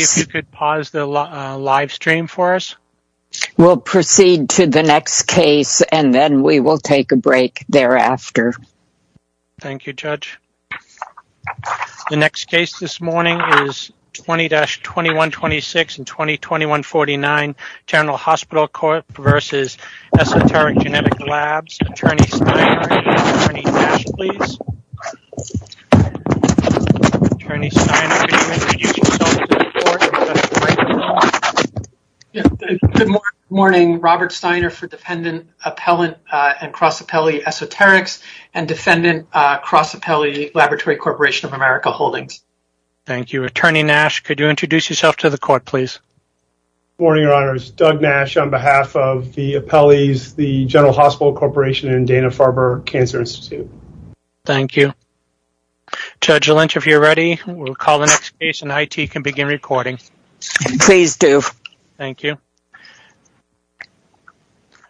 General Hospital Corporation v. Esoterix Genetic Laboratories, LLC Good morning, Robert Steiner for Defendant, Appellant, and Cross-Appellee Esoterix and Defendant, Cross-Appellee Laboratory Corporation of America Holdings. Thank you. Attorney Nash, could you introduce yourself to the court, please? Good morning, Your Honors. Doug Nash on behalf of the appellees, the General Hospital Corporation, and Dana-Farber Cancer Institute. Thank you. Judge Lynch, if you're ready, we'll call the next case and IT can begin recording. Please do. Thank you.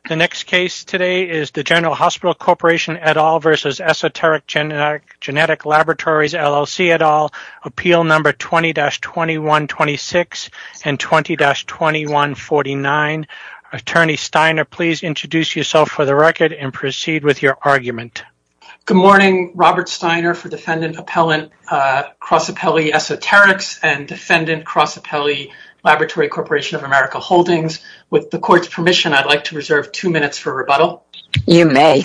The next case today is the General Hospital Corporation et al. v. Esoterix Genetic Laboratories, LLC et al. Appeal Number 20-2126 and 20-2149. Attorney Steiner, please introduce yourself for the record and proceed with your argument. Good morning, Robert Steiner for Defendant, Appellant, Cross-Appellee Esoterix and Defendant, Cross-Appellee Laboratory Corporation of America Holdings. With the court's permission, I'd like to reserve two minutes for rebuttal. You may.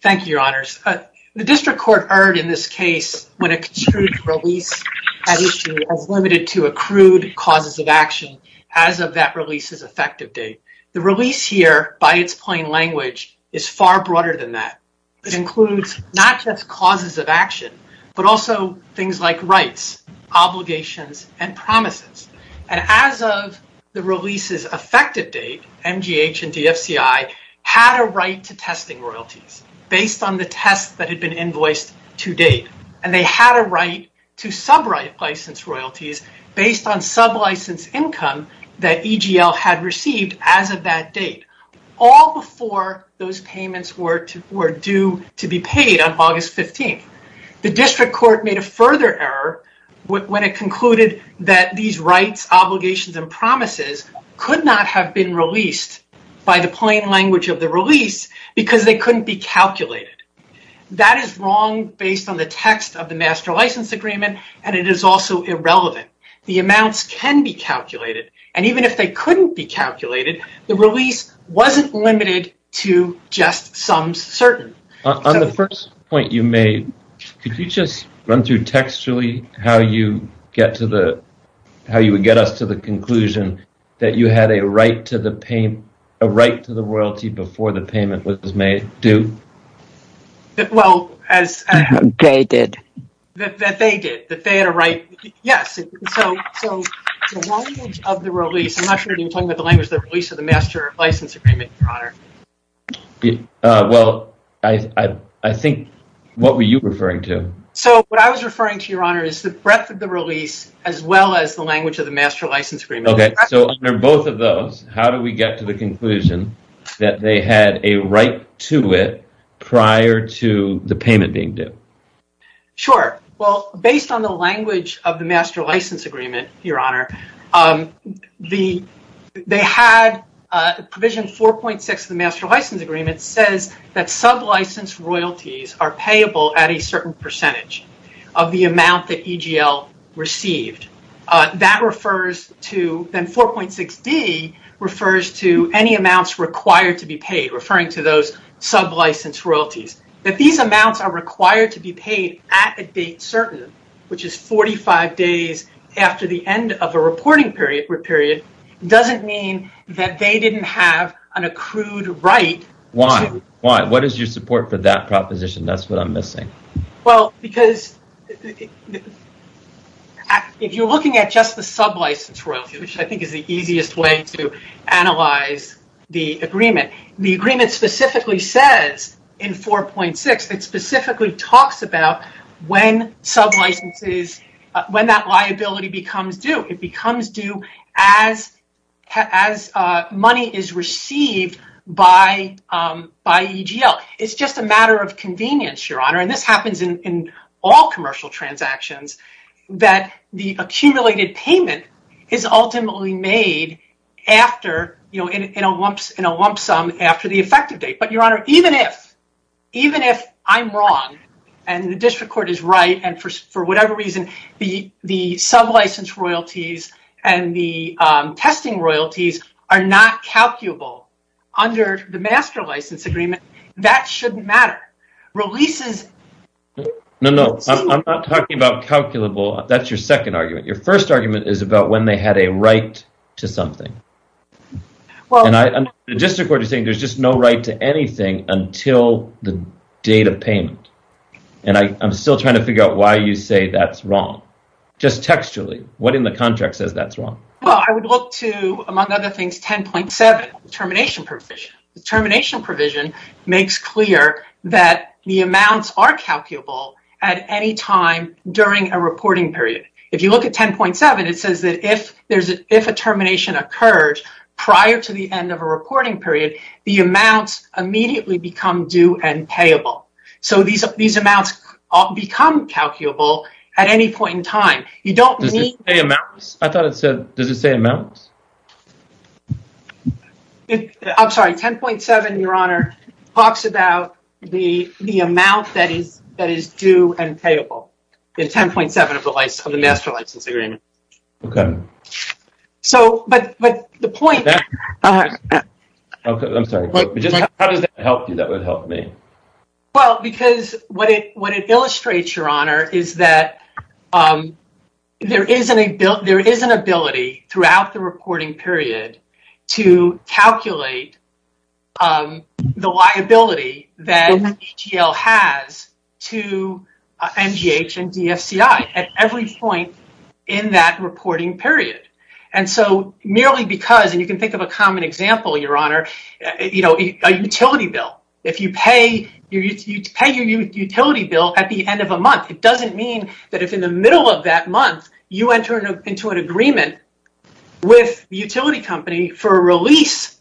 Thank you, Your Honors. The district court erred in this case when it construed release as limited to accrued causes of action as of that release's effective date. The release here, by its plain language, is far broader than that. It includes not just causes of action, but also things like rights, obligations, and promises. And as of the release's effective date, MGH and DFCI had a right to testing royalties based on the tests that had been invoiced to date. And they had a right to sub-right license royalties based on sub-license income that EGL had received as of that date. All before those payments were due to be paid on August 15th. The district court made a further error when it concluded that these rights, obligations, and promises could not have been released by the plain language of the release because they couldn't be calculated. That is wrong based on the text of the Master License Agreement, and it is also irrelevant. The amounts can be calculated, and even if they couldn't be calculated, the release wasn't limited to just some certain. On the first point you made, could you just run through textually how you would get us to the conclusion that you had a right to the royalty before the payment was due? Well, as they did. That they did. That they had a right. Yes. So the language of the release, I'm not sure you're talking about the language of the release of the Master License Agreement, Your Honor. Well, I think what were you referring to? So what I was referring to, Your Honor, is the breadth of the release as well as the language of the Master License Agreement. So under both of those, how do we get to the conclusion that they had a right to it prior to the payment being due? Sure. Well, based on the language of the Master License Agreement, Your Honor, Provision 4.6 of the Master License Agreement says that sub-license royalties are payable at a certain percentage of the amount that EGL received. Then 4.6d refers to any amounts required to be paid, referring to those sub-license royalties. That these amounts are required to be paid at a date certain, which is 45 days after the end of a reporting period, doesn't mean that they didn't have an accrued right. Why? What is your support for that proposition? That's what I'm missing. Well, because if you're looking at just the sub-license royalties, which I think is the easiest way to analyze the agreement, the agreement specifically says in 4.6, it specifically talks about when that liability becomes due. It becomes due as money is received by EGL. It's just a matter of convenience, Your Honor, and this happens in all commercial transactions, that the accumulated payment is ultimately made in a lump sum after the effective date. But Your Honor, even if I'm wrong and the district court is right, and for whatever reason, the sub-license royalties and the testing royalties are not calculable under the Master License Agreement, that shouldn't matter. No, no. I'm not talking about calculable. That's your second argument. Your first argument is about when they had a right to something. The district court is saying there's just no right to anything until the date of payment, and I'm still trying to figure out why you say that's wrong. Just textually, what in the contract says that's wrong? Well, I would look to, among other things, 10.7, the termination provision. The termination provision makes clear that the amounts are calculable at any time during a reporting period. If you look at 10.7, it says that if a termination occurred prior to the end of a reporting period, the amounts immediately become due and payable. So these amounts become calculable at any point in time. Does it say amounts? I'm sorry. 10.7, Your Honor, talks about the amount that is due and payable in 10.7 of the Master License Agreement. Okay. So, but the point... I'm sorry. How does that help you? That would help me. Well, because what it illustrates, Your Honor, is that there is an ability throughout the reporting period to calculate the liability that EGL has to MGH and DFCI at every point in that reporting period. And so merely because, and you can think of a common example, Your Honor, a utility bill. If you pay your utility bill at the end of a month, it doesn't mean that if in the middle of that month, you enter into an agreement with the utility company for a release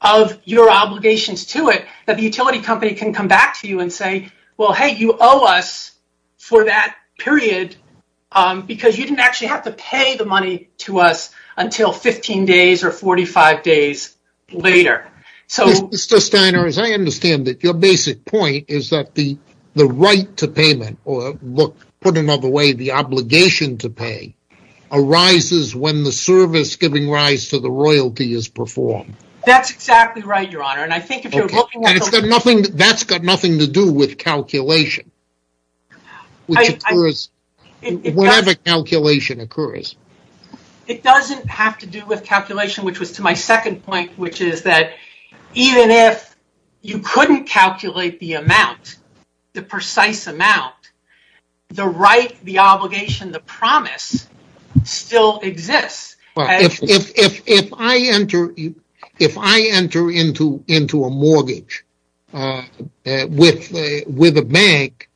of your obligations to it, that the utility company can come back to you and say, well, hey, you owe us for that period because you didn't actually have to pay the money to us until 15 days or 45 days later. Mr. Steiner, as I understand it, your basic point is that the right to payment, or look, put another way, the obligation to pay arises when the service giving rise to the royalty is performed. That's exactly right, Your Honor, and I think if you're... Okay, that's got nothing to do with calculation, whatever calculation occurs. It doesn't have to do with calculation, which was to my second point, which is that even if you couldn't calculate the amount, the precise amount, the right, the obligation, the promise still exists. If I enter into a mortgage with a bank,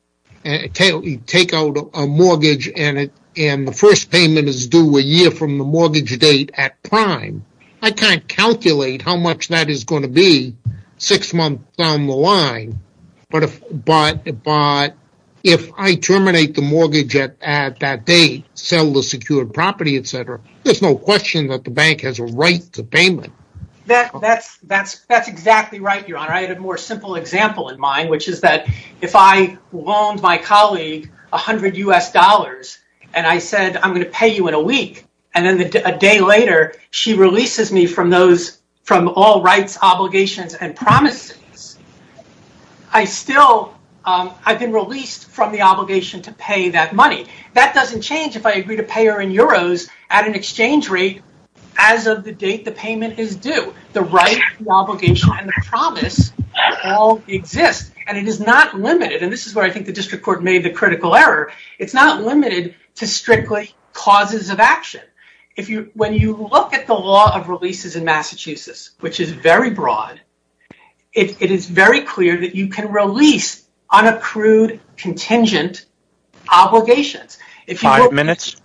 take out a mortgage, and the first payment is due a year from the mortgage date at prime, I can't calculate how much that is going to be six months down the line, but if I terminate the mortgage at that date, sell the secured property, et cetera, there's no question that the bank has a right to payment. That's exactly right, Your Honor. I had a more simple example in mind, which is that if I loaned my colleague a hundred US dollars and I said, I'm going to pay you in a week, and then a day later, she releases me from all rights, obligations, and promises, I've been released from the obligation to pay that money. That doesn't change if I agree to pay her in euros at an exchange rate as of the date the payment is due. The right, the obligation, and the promise all exist, and it is not limited, and this is where I think the district court made the critical error. It's not limited to strictly causes of action. When you look at the law of releases in Massachusetts, which is very broad, it is very clear that you can release unaccrued contingent obligations. Five minutes.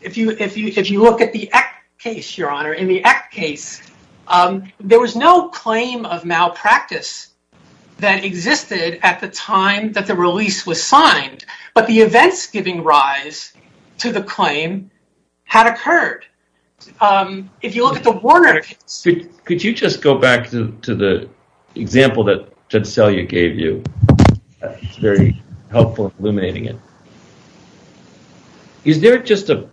If you look at the Act case, Your Honor, in the Act case, there was no claim of malpractice that existed at the time that the release was signed, but the events giving rise to the claim had occurred. If you look at the Warner case... Could you just go back to the example that Judge Selye gave you? It's very helpful in illuminating it. Is there just a,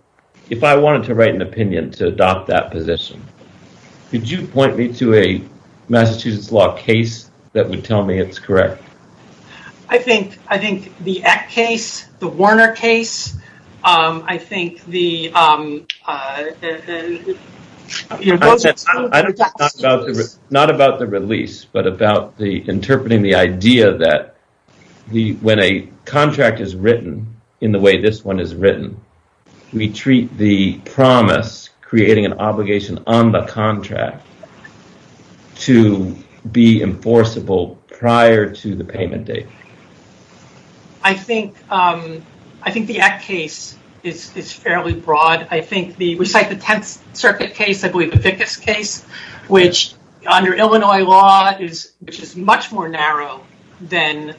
if I wanted to write an opinion to adopt that position, could you point me to a Massachusetts law case that would tell me it's correct? I think the Act case, the Warner case, I think the... Not about the release, but about interpreting the idea that when a contract is written in the way this one is written, we treat the promise, creating an obligation on the contract to be enforceable prior to the payment date. I think the Act case is fairly broad. I think the recite the Tenth Circuit case, I believe the Vickas case, which under Illinois law is much more narrow than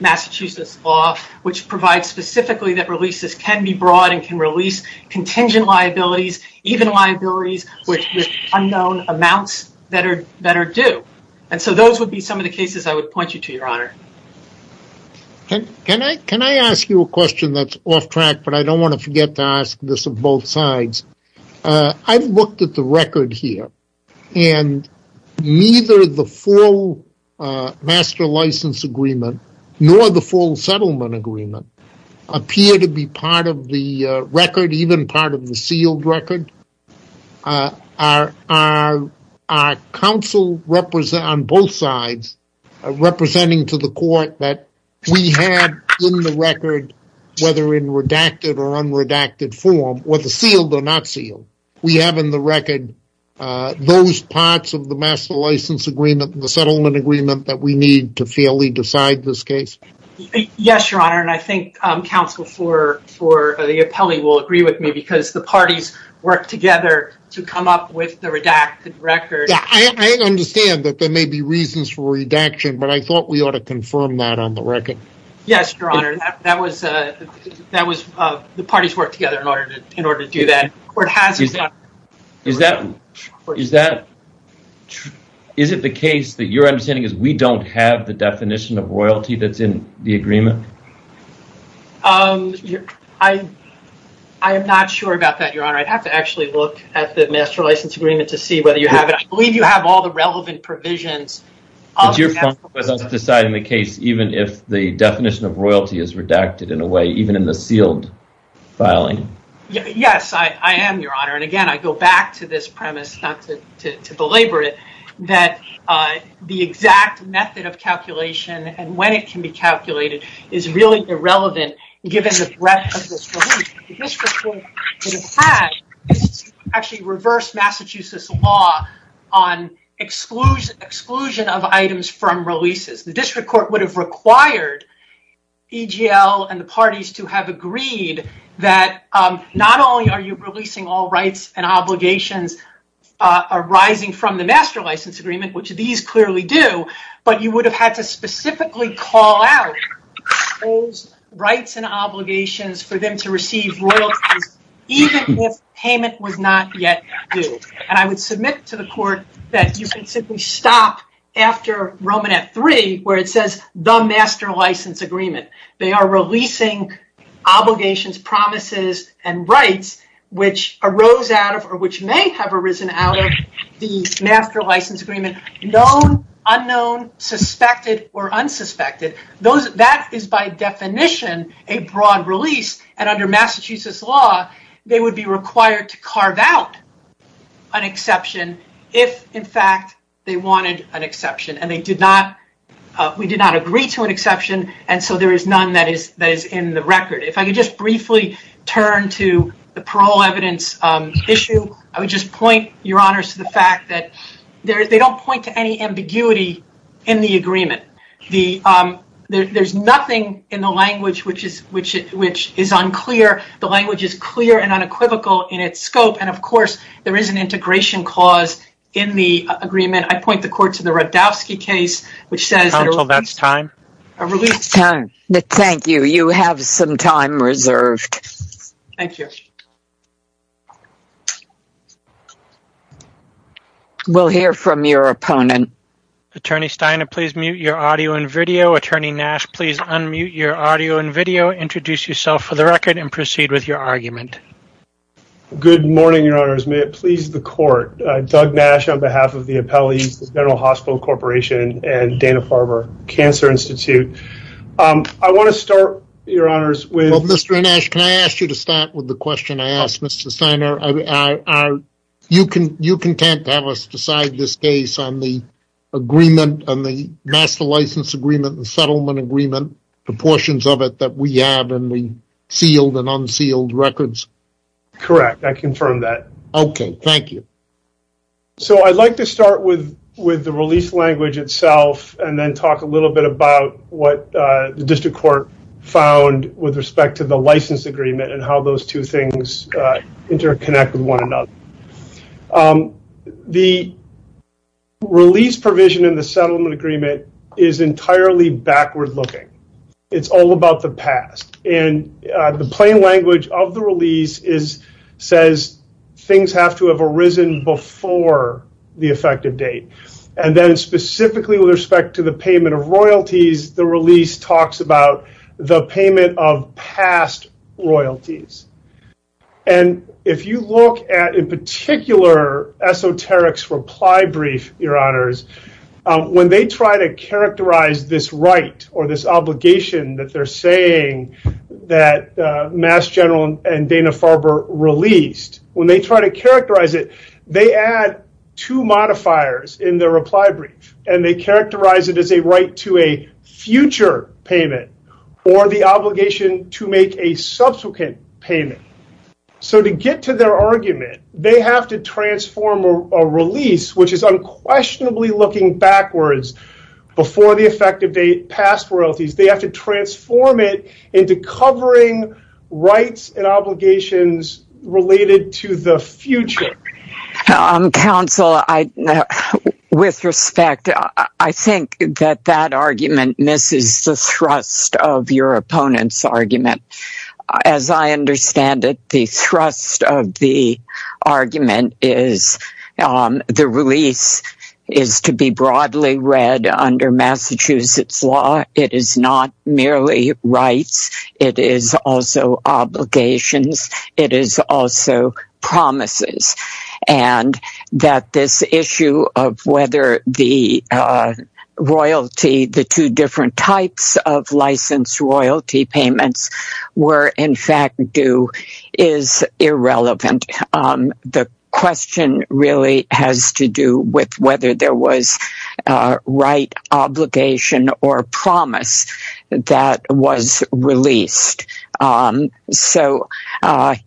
Massachusetts law, which provides specifically that releases can be broad and can release contingent liabilities, even liabilities with unknown amounts that are due. Those would be some of the cases I would point you to, Your Honor. Can I ask you a question that's off track, but I don't want to forget to ask this of both sides? I've looked at the record here, and neither the full master license agreement nor the full settlement agreement appear to be part of the record, even part of the sealed record. Our counsel on both sides are representing to the court that we have in the record, whether in redacted or unredacted form, whether sealed or not sealed, we have in the record those parts of the master license agreement, the settlement agreement that we need to fairly decide this case. Yes, Your Honor, and I think counsel for the appellee will agree with me because the parties worked together to come up with the redacted record. I understand that there may be reasons for redaction, but I thought we ought to confirm that on the record. Yes, Your Honor, the parties worked together in order to do that. Is it the case that your understanding is we don't have the definition of royalty that's in the agreement? I am not sure about that, Your Honor. I'd have to actually look at the master license agreement to see whether you have it. I believe you have all the relevant provisions. Is your function to decide in the case even if the definition of royalty is redacted in a way, even in the sealed filing? Yes, I am, Your Honor, and again, I go back to this premise, not to belabor it, that the exact method of calculation and when it can be calculated is really irrelevant given the breadth of this relief. The district court would have had to actually reverse Massachusetts law on exclusion of items from releases. The district court would have required EGL and the parties to have agreed that not only are you releasing all rights and obligations arising from the master license agreement, which these clearly do, but you would have had to specifically call out those rights and obligations for them to receive royalties even if payment was not yet due. And I would submit to the court that you can simply stop after Romanette 3 where it says the master license agreement. They are releasing obligations, promises, and rights which arose out of or which may have arisen out of the master license agreement, known, unknown, suspected, or unsuspected. That is by definition a broad release, and under Massachusetts law, they would be required to carve out an exception if, in fact, they wanted an exception. And we did not agree to an exception, and so there is none that is in the record. If I could just briefly turn to the parole evidence issue, I would just point, Your Honors, to the fact that they don't point to any ambiguity in the agreement. There's nothing in the language which is unclear. The language is clear and unequivocal in its scope, and, of course, there is an integration clause in the agreement. I point the court to the Radowsky case, which says... Counsel, that's time. A release time. Thank you. You have some time reserved. Thank you. We'll hear from your opponent. Attorney Steiner, please mute your audio and video. Attorney Nash, please unmute your audio and video, introduce yourself for the record, and proceed with your argument. Good morning, Your Honors. May it please the court, Doug Nash on behalf of the Appellees, the General Hospital Corporation, and Dana-Farber Cancer Institute. I want to start, Your Honors, with... Well, Mr. Nash, can I ask you to start with the question I asked, Mr. Steiner? Are you content to have us decide this case on the agreement, on the master license agreement and settlement agreement, the portions of it that we have in the sealed and unsealed records? Correct. I confirm that. Okay. Thank you. So I'd like to start with the release language itself and then talk a little bit about what the district court found with respect to the license agreement and how those two things interconnect with one another. The release provision in the settlement agreement is entirely backward-looking. It's all about the past, and the plain language of the release says things have to have arisen before the effective date. And then specifically with respect to the payment of royalties, the release talks about the payment of past royalties. And if you look at, in particular, Esoteric's reply brief, Your Honors, when they try to characterize this right or this obligation that they're saying that Mass General and Dana-Farber released, when they try to characterize it, they add two modifiers in their reply brief, and they characterize it as a right to a future payment or the obligation to make a subsequent payment. So to get to their argument, they have to transform a release, which is unquestionably looking backwards, before the effective date, past royalties. They have to transform it into covering rights and obligations related to the future. Counsel, with respect, I think that that argument misses the thrust of your opponent's argument. As I understand it, the thrust of the argument is the release is to be broadly read under Massachusetts law. It is not merely rights. It is also obligations. It is also promises. And that this issue of whether the royalty, the two different types of licensed royalty payments, were in fact due is irrelevant. The question really has to do with whether there was a right, obligation, or promise that was released. So,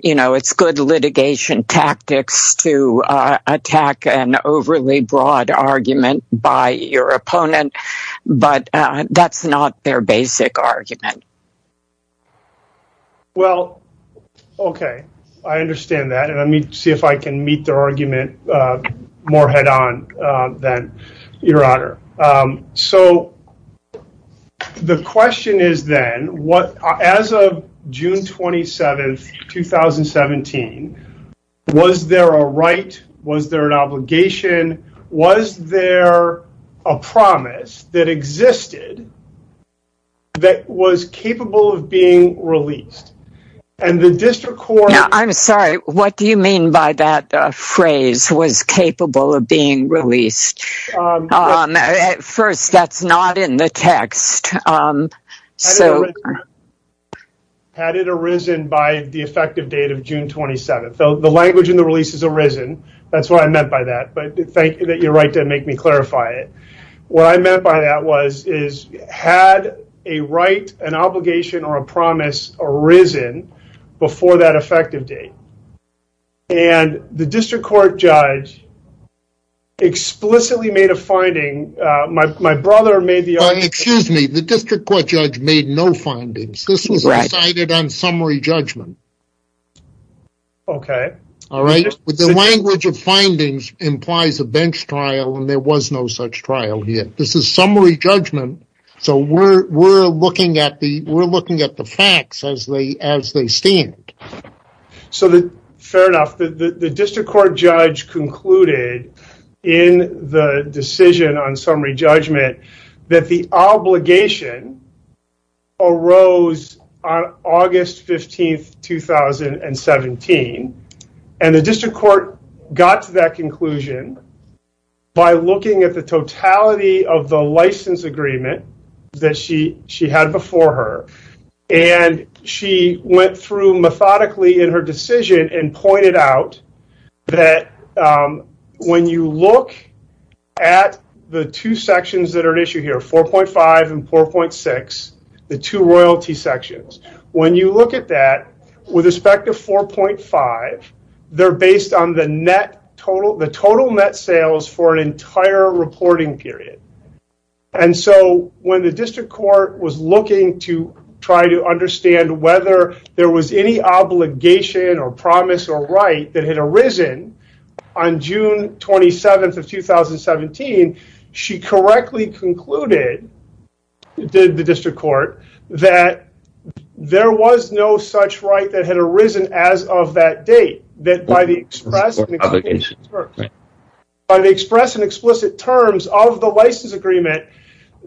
you know, it's good litigation tactics to attack an overly broad argument by your opponent, but that's not their basic argument. Well, okay. I understand that. And let me see if I can meet their argument more head-on than your honor. So, the question is then, as of June 27th, 2017, was there a right? Was there an obligation? Was there a promise that existed that was capable of being released? I'm sorry, what do you mean by that phrase, that was capable of being released? First, that's not in the text. Had it arisen by the effective date of June 27th? The language in the release is arisen. That's what I meant by that. But thank you that you're right to make me clarify it. What I meant by that was, is had a right, an obligation, or a promise arisen before that effective date? And the district court judge explicitly made a finding. My brother made the argument. Excuse me, the district court judge made no findings. This was decided on summary judgment. Okay. All right, but the language of findings implies a bench trial, and there was no such trial here. This is summary judgment, so we're looking at the facts as they stand. So, fair enough. The district court judge concluded in the decision on summary judgment that the obligation arose on August 15th, 2017. And the district court got to that conclusion by looking at the totality of the license agreement that she had before her. And she went through methodically in her decision and pointed out that when you look at the two sections that are at issue here, 4.5 and 4.6, the two royalty sections, when you look at that, with respect to 4.5, they're based on the total net sales for an entire reporting period. And so, when the district court was looking to try to understand whether there was any obligation or promise or right that had arisen on June 27th of 2017, she correctly concluded, did the district court, that there was no such right that had arisen as of that date. That by the express and explicit terms of the license agreement,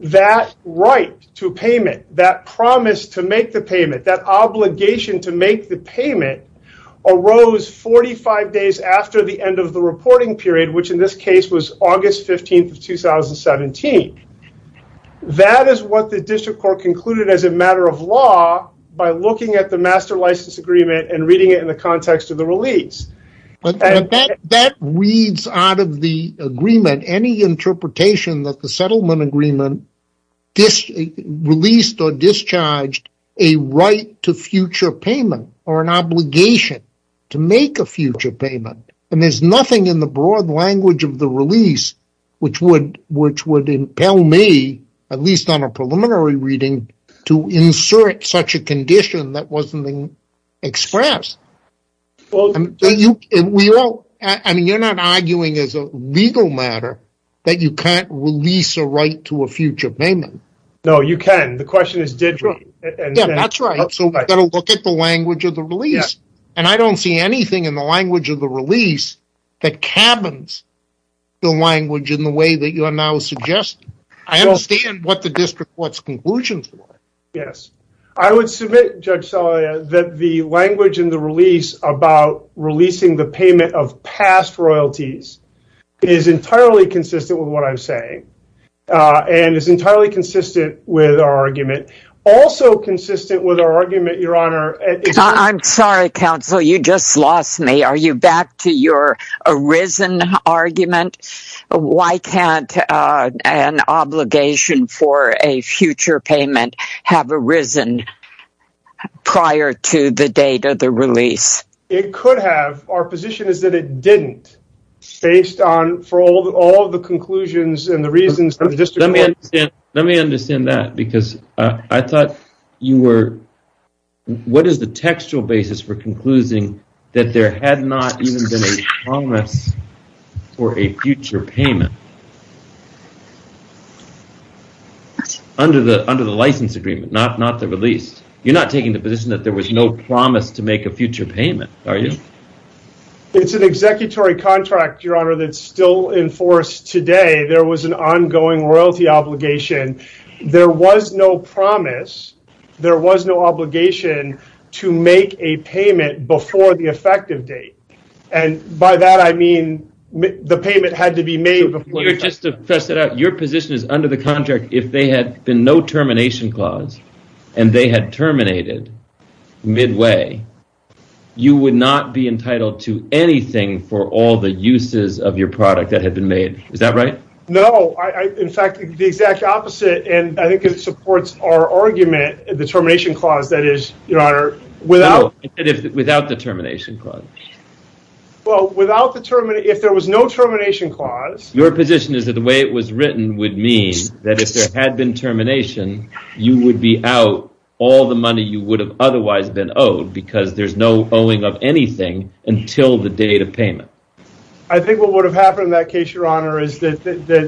that right to payment, that promise to make the payment, that obligation to make the payment, arose 45 days after the end of the reporting period, which in this case was August 15th of 2017. That is what the district court concluded as a matter of law by looking at the master license agreement and reading it in the context of the release. That reads out of the agreement any interpretation that the settlement agreement released or discharged a right to future payment or an obligation to make a future payment. And there's nothing in the broad language of the release which would impel me, at least on a preliminary reading, to insert such a condition that wasn't expressed. I mean, you're not arguing as a legal matter that you can't release a right to a future payment. No, you can. The question is did you? Yeah, that's right. So we've got to look at the language of the release. And I don't see anything in the language of the release that cabins the language in the way that you are now suggesting. I understand what the district court's conclusions were. Yes. I would submit, Judge Salia, that the language in the release about releasing the payment of past royalties is entirely consistent with what I'm saying and is entirely consistent with our argument. Also consistent with our argument, Your Honor... I'm sorry, counsel. You just lost me. Are you back to your arisen argument? Why can't an obligation for a future payment have arisen prior to the date of the release? It could have. Our position is that it didn't based on all the conclusions and the reasons of the district court. Let me understand that because I thought you were... What is the textual basis for concluding that there had not even been a promise for a future payment under the license agreement, not the release? You're not taking the position that there was no promise to make a future payment, are you? It's an executory contract, Your Honor, that's still in force today. There was an ongoing royalty obligation. There was no promise, there was no obligation to make a payment before the effective date. By that, I mean the payment had to be made... Just to test it out, your position is under the contract if there had been no termination clause and they had terminated midway, you would not be entitled to anything for all the uses of your product that had been made. Is that right? No. In fact, the exact opposite. I think it supports our argument, the termination clause, that is, Your Honor, without... Without the termination clause. If there was no termination clause... Your position is that the way it was written would mean that if there had been termination, you would be out all the money you would have otherwise been owed because there's no owing of anything until the date of payment. I think what would have happened in that case, Your Honor, is that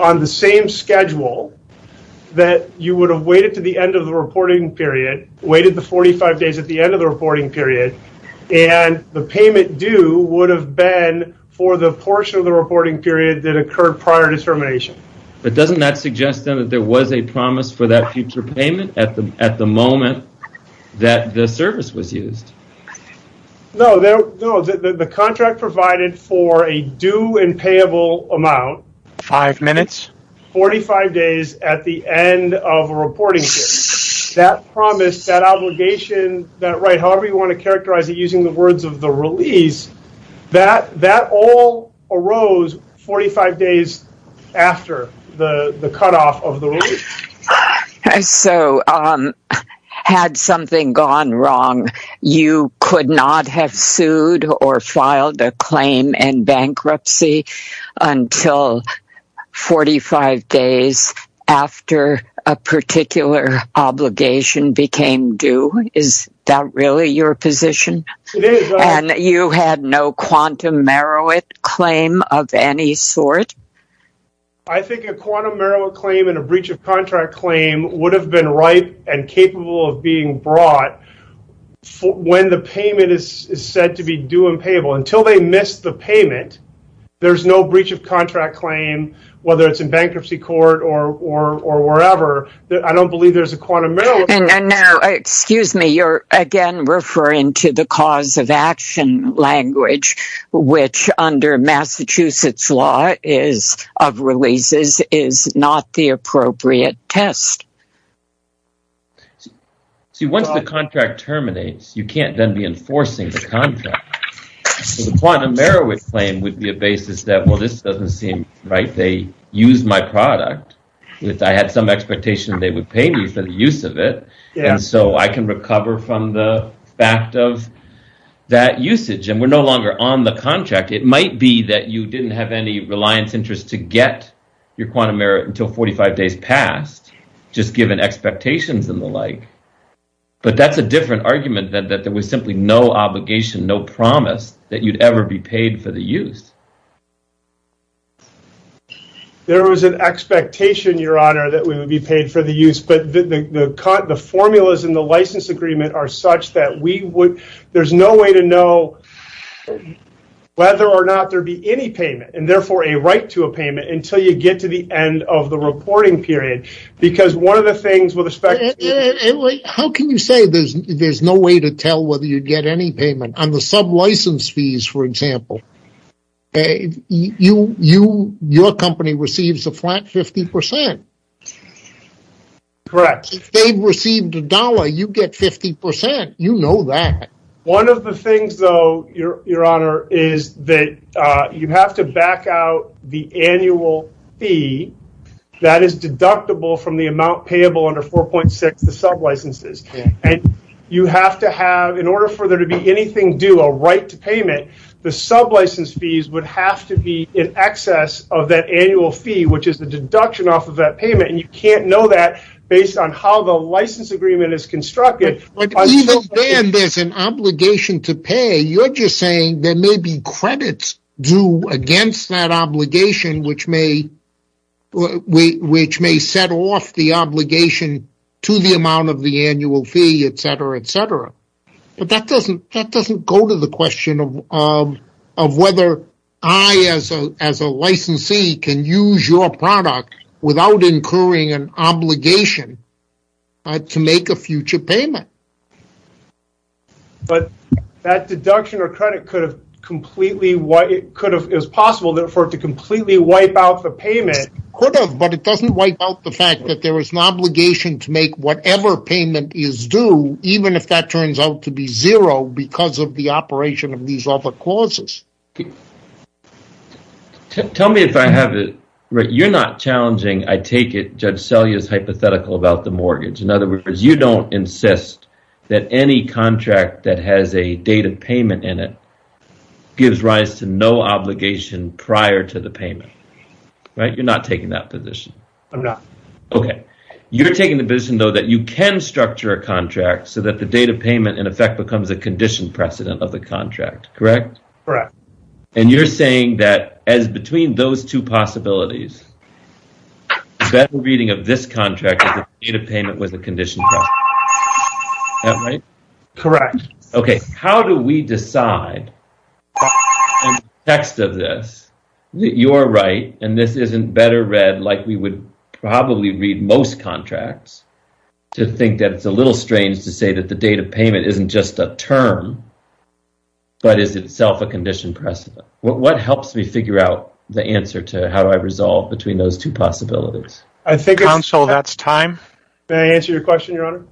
on the same schedule, that you would have waited to the end of the reporting period, waited the 45 days at the end of the reporting period, and the payment due would have been for the portion of the reporting period that occurred prior to termination. But doesn't that suggest, then, that there was a promise for that future payment at the moment that the service was used? No, the contract provided for a due and payable amount... 45 days at the end of a reporting period. That promise, that obligation, that right, however you want to characterize it using the words of the release, that all arose 45 days after the cutoff of the release. So, had something gone wrong, you could not have sued or filed a claim in bankruptcy until 45 days after a particular obligation became due? Is that really your position? And you had no quantum merowit claim of any sort? I think a quantum merowit claim and a breach of contract claim would have been ripe and capable of being brought when the payment is said to be due and payable. Until they missed the payment, there's no breach of contract claim, whether it's in bankruptcy court or wherever. I don't believe there's a quantum merowit claim. Excuse me, you're again referring to the cause of action language, which under Massachusetts law of releases is not the appropriate test. See, once the contract terminates, you can't then be enforcing the contract. The quantum merowit claim would be a basis that, well, this doesn't seem right. They used my product. I had some expectation they would pay me for the use of it. And so I can recover from the fact of that usage. And we're no longer on the contract. It might be that you didn't have any reliance interest to get your quantum merowit until 45 days passed, just given expectations and the like. But that's a different argument that there was simply no obligation, no promise that you'd ever be paid for the use. There was an expectation, Your Honor, that we would be paid for the use. But the formulas in the license agreement are such that there's no way to know whether or not there'd be any payment and therefore a right to a payment until you get to the end of the reporting period. Because one of the things with respect to... How can you say there's no way to tell whether you'd get any payment? On the sub-license fees, for example, your company receives a flat 50%. Correct. If they've received a dollar, you get 50%. You know that. One of the things, though, Your Honor, is that you have to back out the annual fee that is deductible from the amount payable under 4.6, the sub-licenses. You have to have, in order for there to be anything due, a right to payment, the sub-license fees would have to be in excess of that annual fee, which is the deduction off of that payment. You can't know that based on how the license agreement is constructed. Even then, there's an obligation to pay. You're just saying there may be credits due against that obligation, which may set off the obligation to the amount of the annual fee, etc., etc. But that doesn't go to the question of whether I, as a licensee, can use your product without incurring an obligation to make a future payment. But that deduction or credit could have completely, it was possible for it to completely wipe out the payment. It could have, but it doesn't wipe out the fact that there is an obligation to make whatever payment is due, even if that turns out to be zero because of the operation of these other clauses. Tell me if I have it right. You're not challenging, I take it, Judge Selye's hypothetical about the mortgage. In other words, you don't insist that any contract that has a date of payment in it gives rise to no obligation prior to the payment. You're not taking that position. You're taking the position, though, that you can structure a contract so that the date of payment, in effect, becomes a conditioned precedent of the contract, correct? You're saying that as between those two possibilities, that the reading of this contract is a date of payment with a conditioned precedent. Am I right? Correct. How do we decide in the context of this that you're right and this isn't better read like we would probably read most contracts to think that it's a little strange to say that the date of payment isn't just a term but is itself a conditioned precedent? What helps me figure out the answer to how do I resolve between those two possibilities? Counsel, that's time. May I answer your question, Your Honor?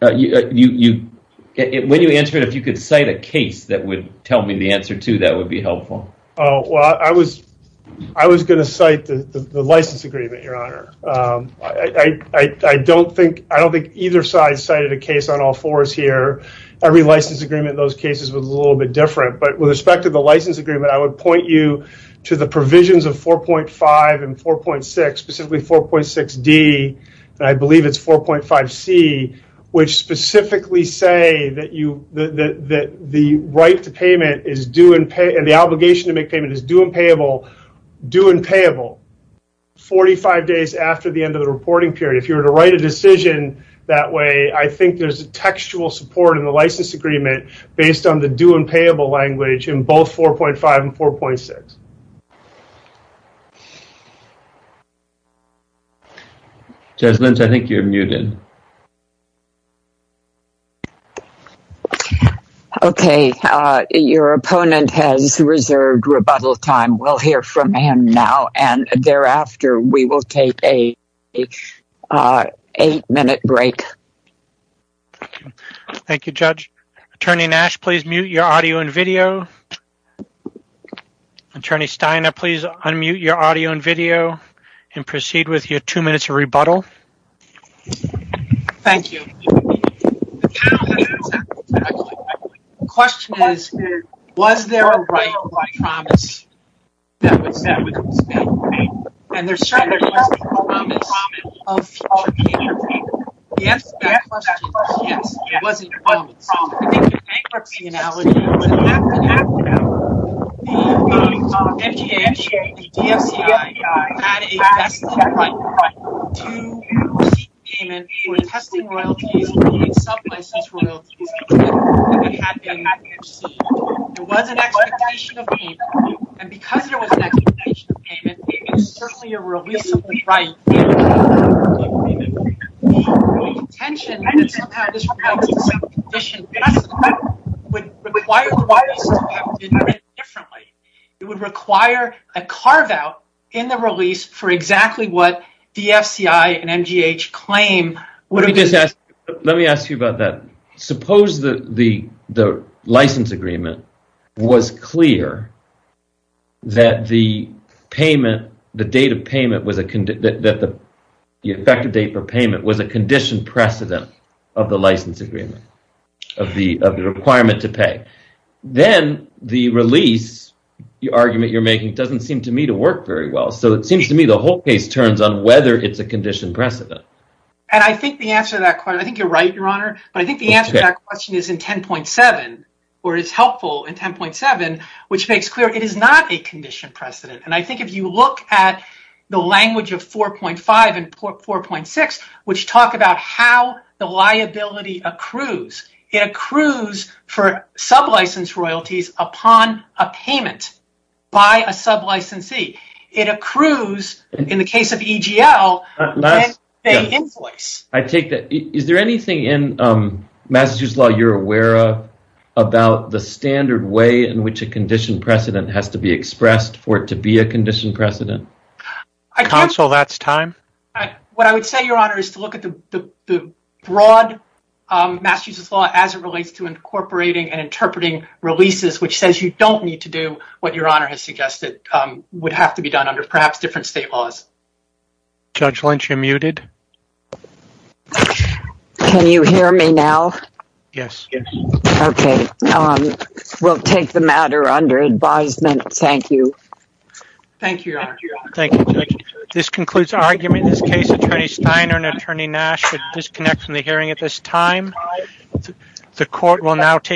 When you answer it, if you could cite a case that would tell me the answer to that would be helpful. I was going to cite the license agreement, Your Honor. I don't think either side cited a case on all fours here. Every license agreement in those cases was a little bit different. With respect to the license agreement, I would point you to the provisions of 4.5 and 4.6, specifically 4.6D, and I believe it's 4.5C, which specifically say that the right to payment and the obligation to make payment is due and payable 45 days after the end of the reporting period. If you were to write a decision that way, I think there's a textual support in the license agreement based on the due and payable language in both 4.5 and 4.6. Judge Lentz, I think you're muted. Okay, your opponent has reserved rebuttal time. We'll hear from him now and thereafter we will take an eight-minute break. Thank you, Judge. Attorney Nash, please mute your audio and video. Attorney Steiner, please unmute your audio and video and proceed with your two minutes of rebuttal. Thank you. The question is, was there a right by promise that was made? And there certainly wasn't a promise of future payment. Yes, there was a promise. It wasn't a promise. I think the bankruptcy analogy is that the FCH and the DFCI had a vested right to payment for testing royalties and sub-license royalties that had been received. There was an expectation of payment. And because there was an expectation of payment, there was certainly a release of the right. The contention that somehow this would require royalties to be paid differently. It would require a carve-out in the release for exactly what the FCH and MGH claim Let me ask you about that. Suppose the license agreement was clear that the effective date for payment was a conditioned precedent of the license agreement of the requirement to pay. Then the release argument you're making doesn't seem to me to work very well. So it seems to me the whole case turns on whether it's a conditioned precedent. I think the answer to that question is helpful in 10.7 which makes clear it is not a conditioned precedent. If you look at the language of 4.5 and 4.6 which talk about how the liability accrues. It accrues for sub-license royalties upon a payment by a sub-licensee. It accrues in the case of EGL that they invoice. Is there anything in Massachusetts law you're aware of about the standard way in which a conditioned precedent has to be expressed for it to be a conditioned precedent? What I would say, Your Honor, is to look at the broad Massachusetts law as it relates to incorporating and interpreting releases which says you don't need to do what Your Honor has suggested would have to be done under perhaps different state laws. Judge Lynch, you're muted. Can you hear me now? Yes. We'll take the matter under advisement. Thank you. Thank you, Your Honor. This concludes argument in this case. Attorney Steiner and Attorney Nash would disconnect from the hearing at this time. The court will now take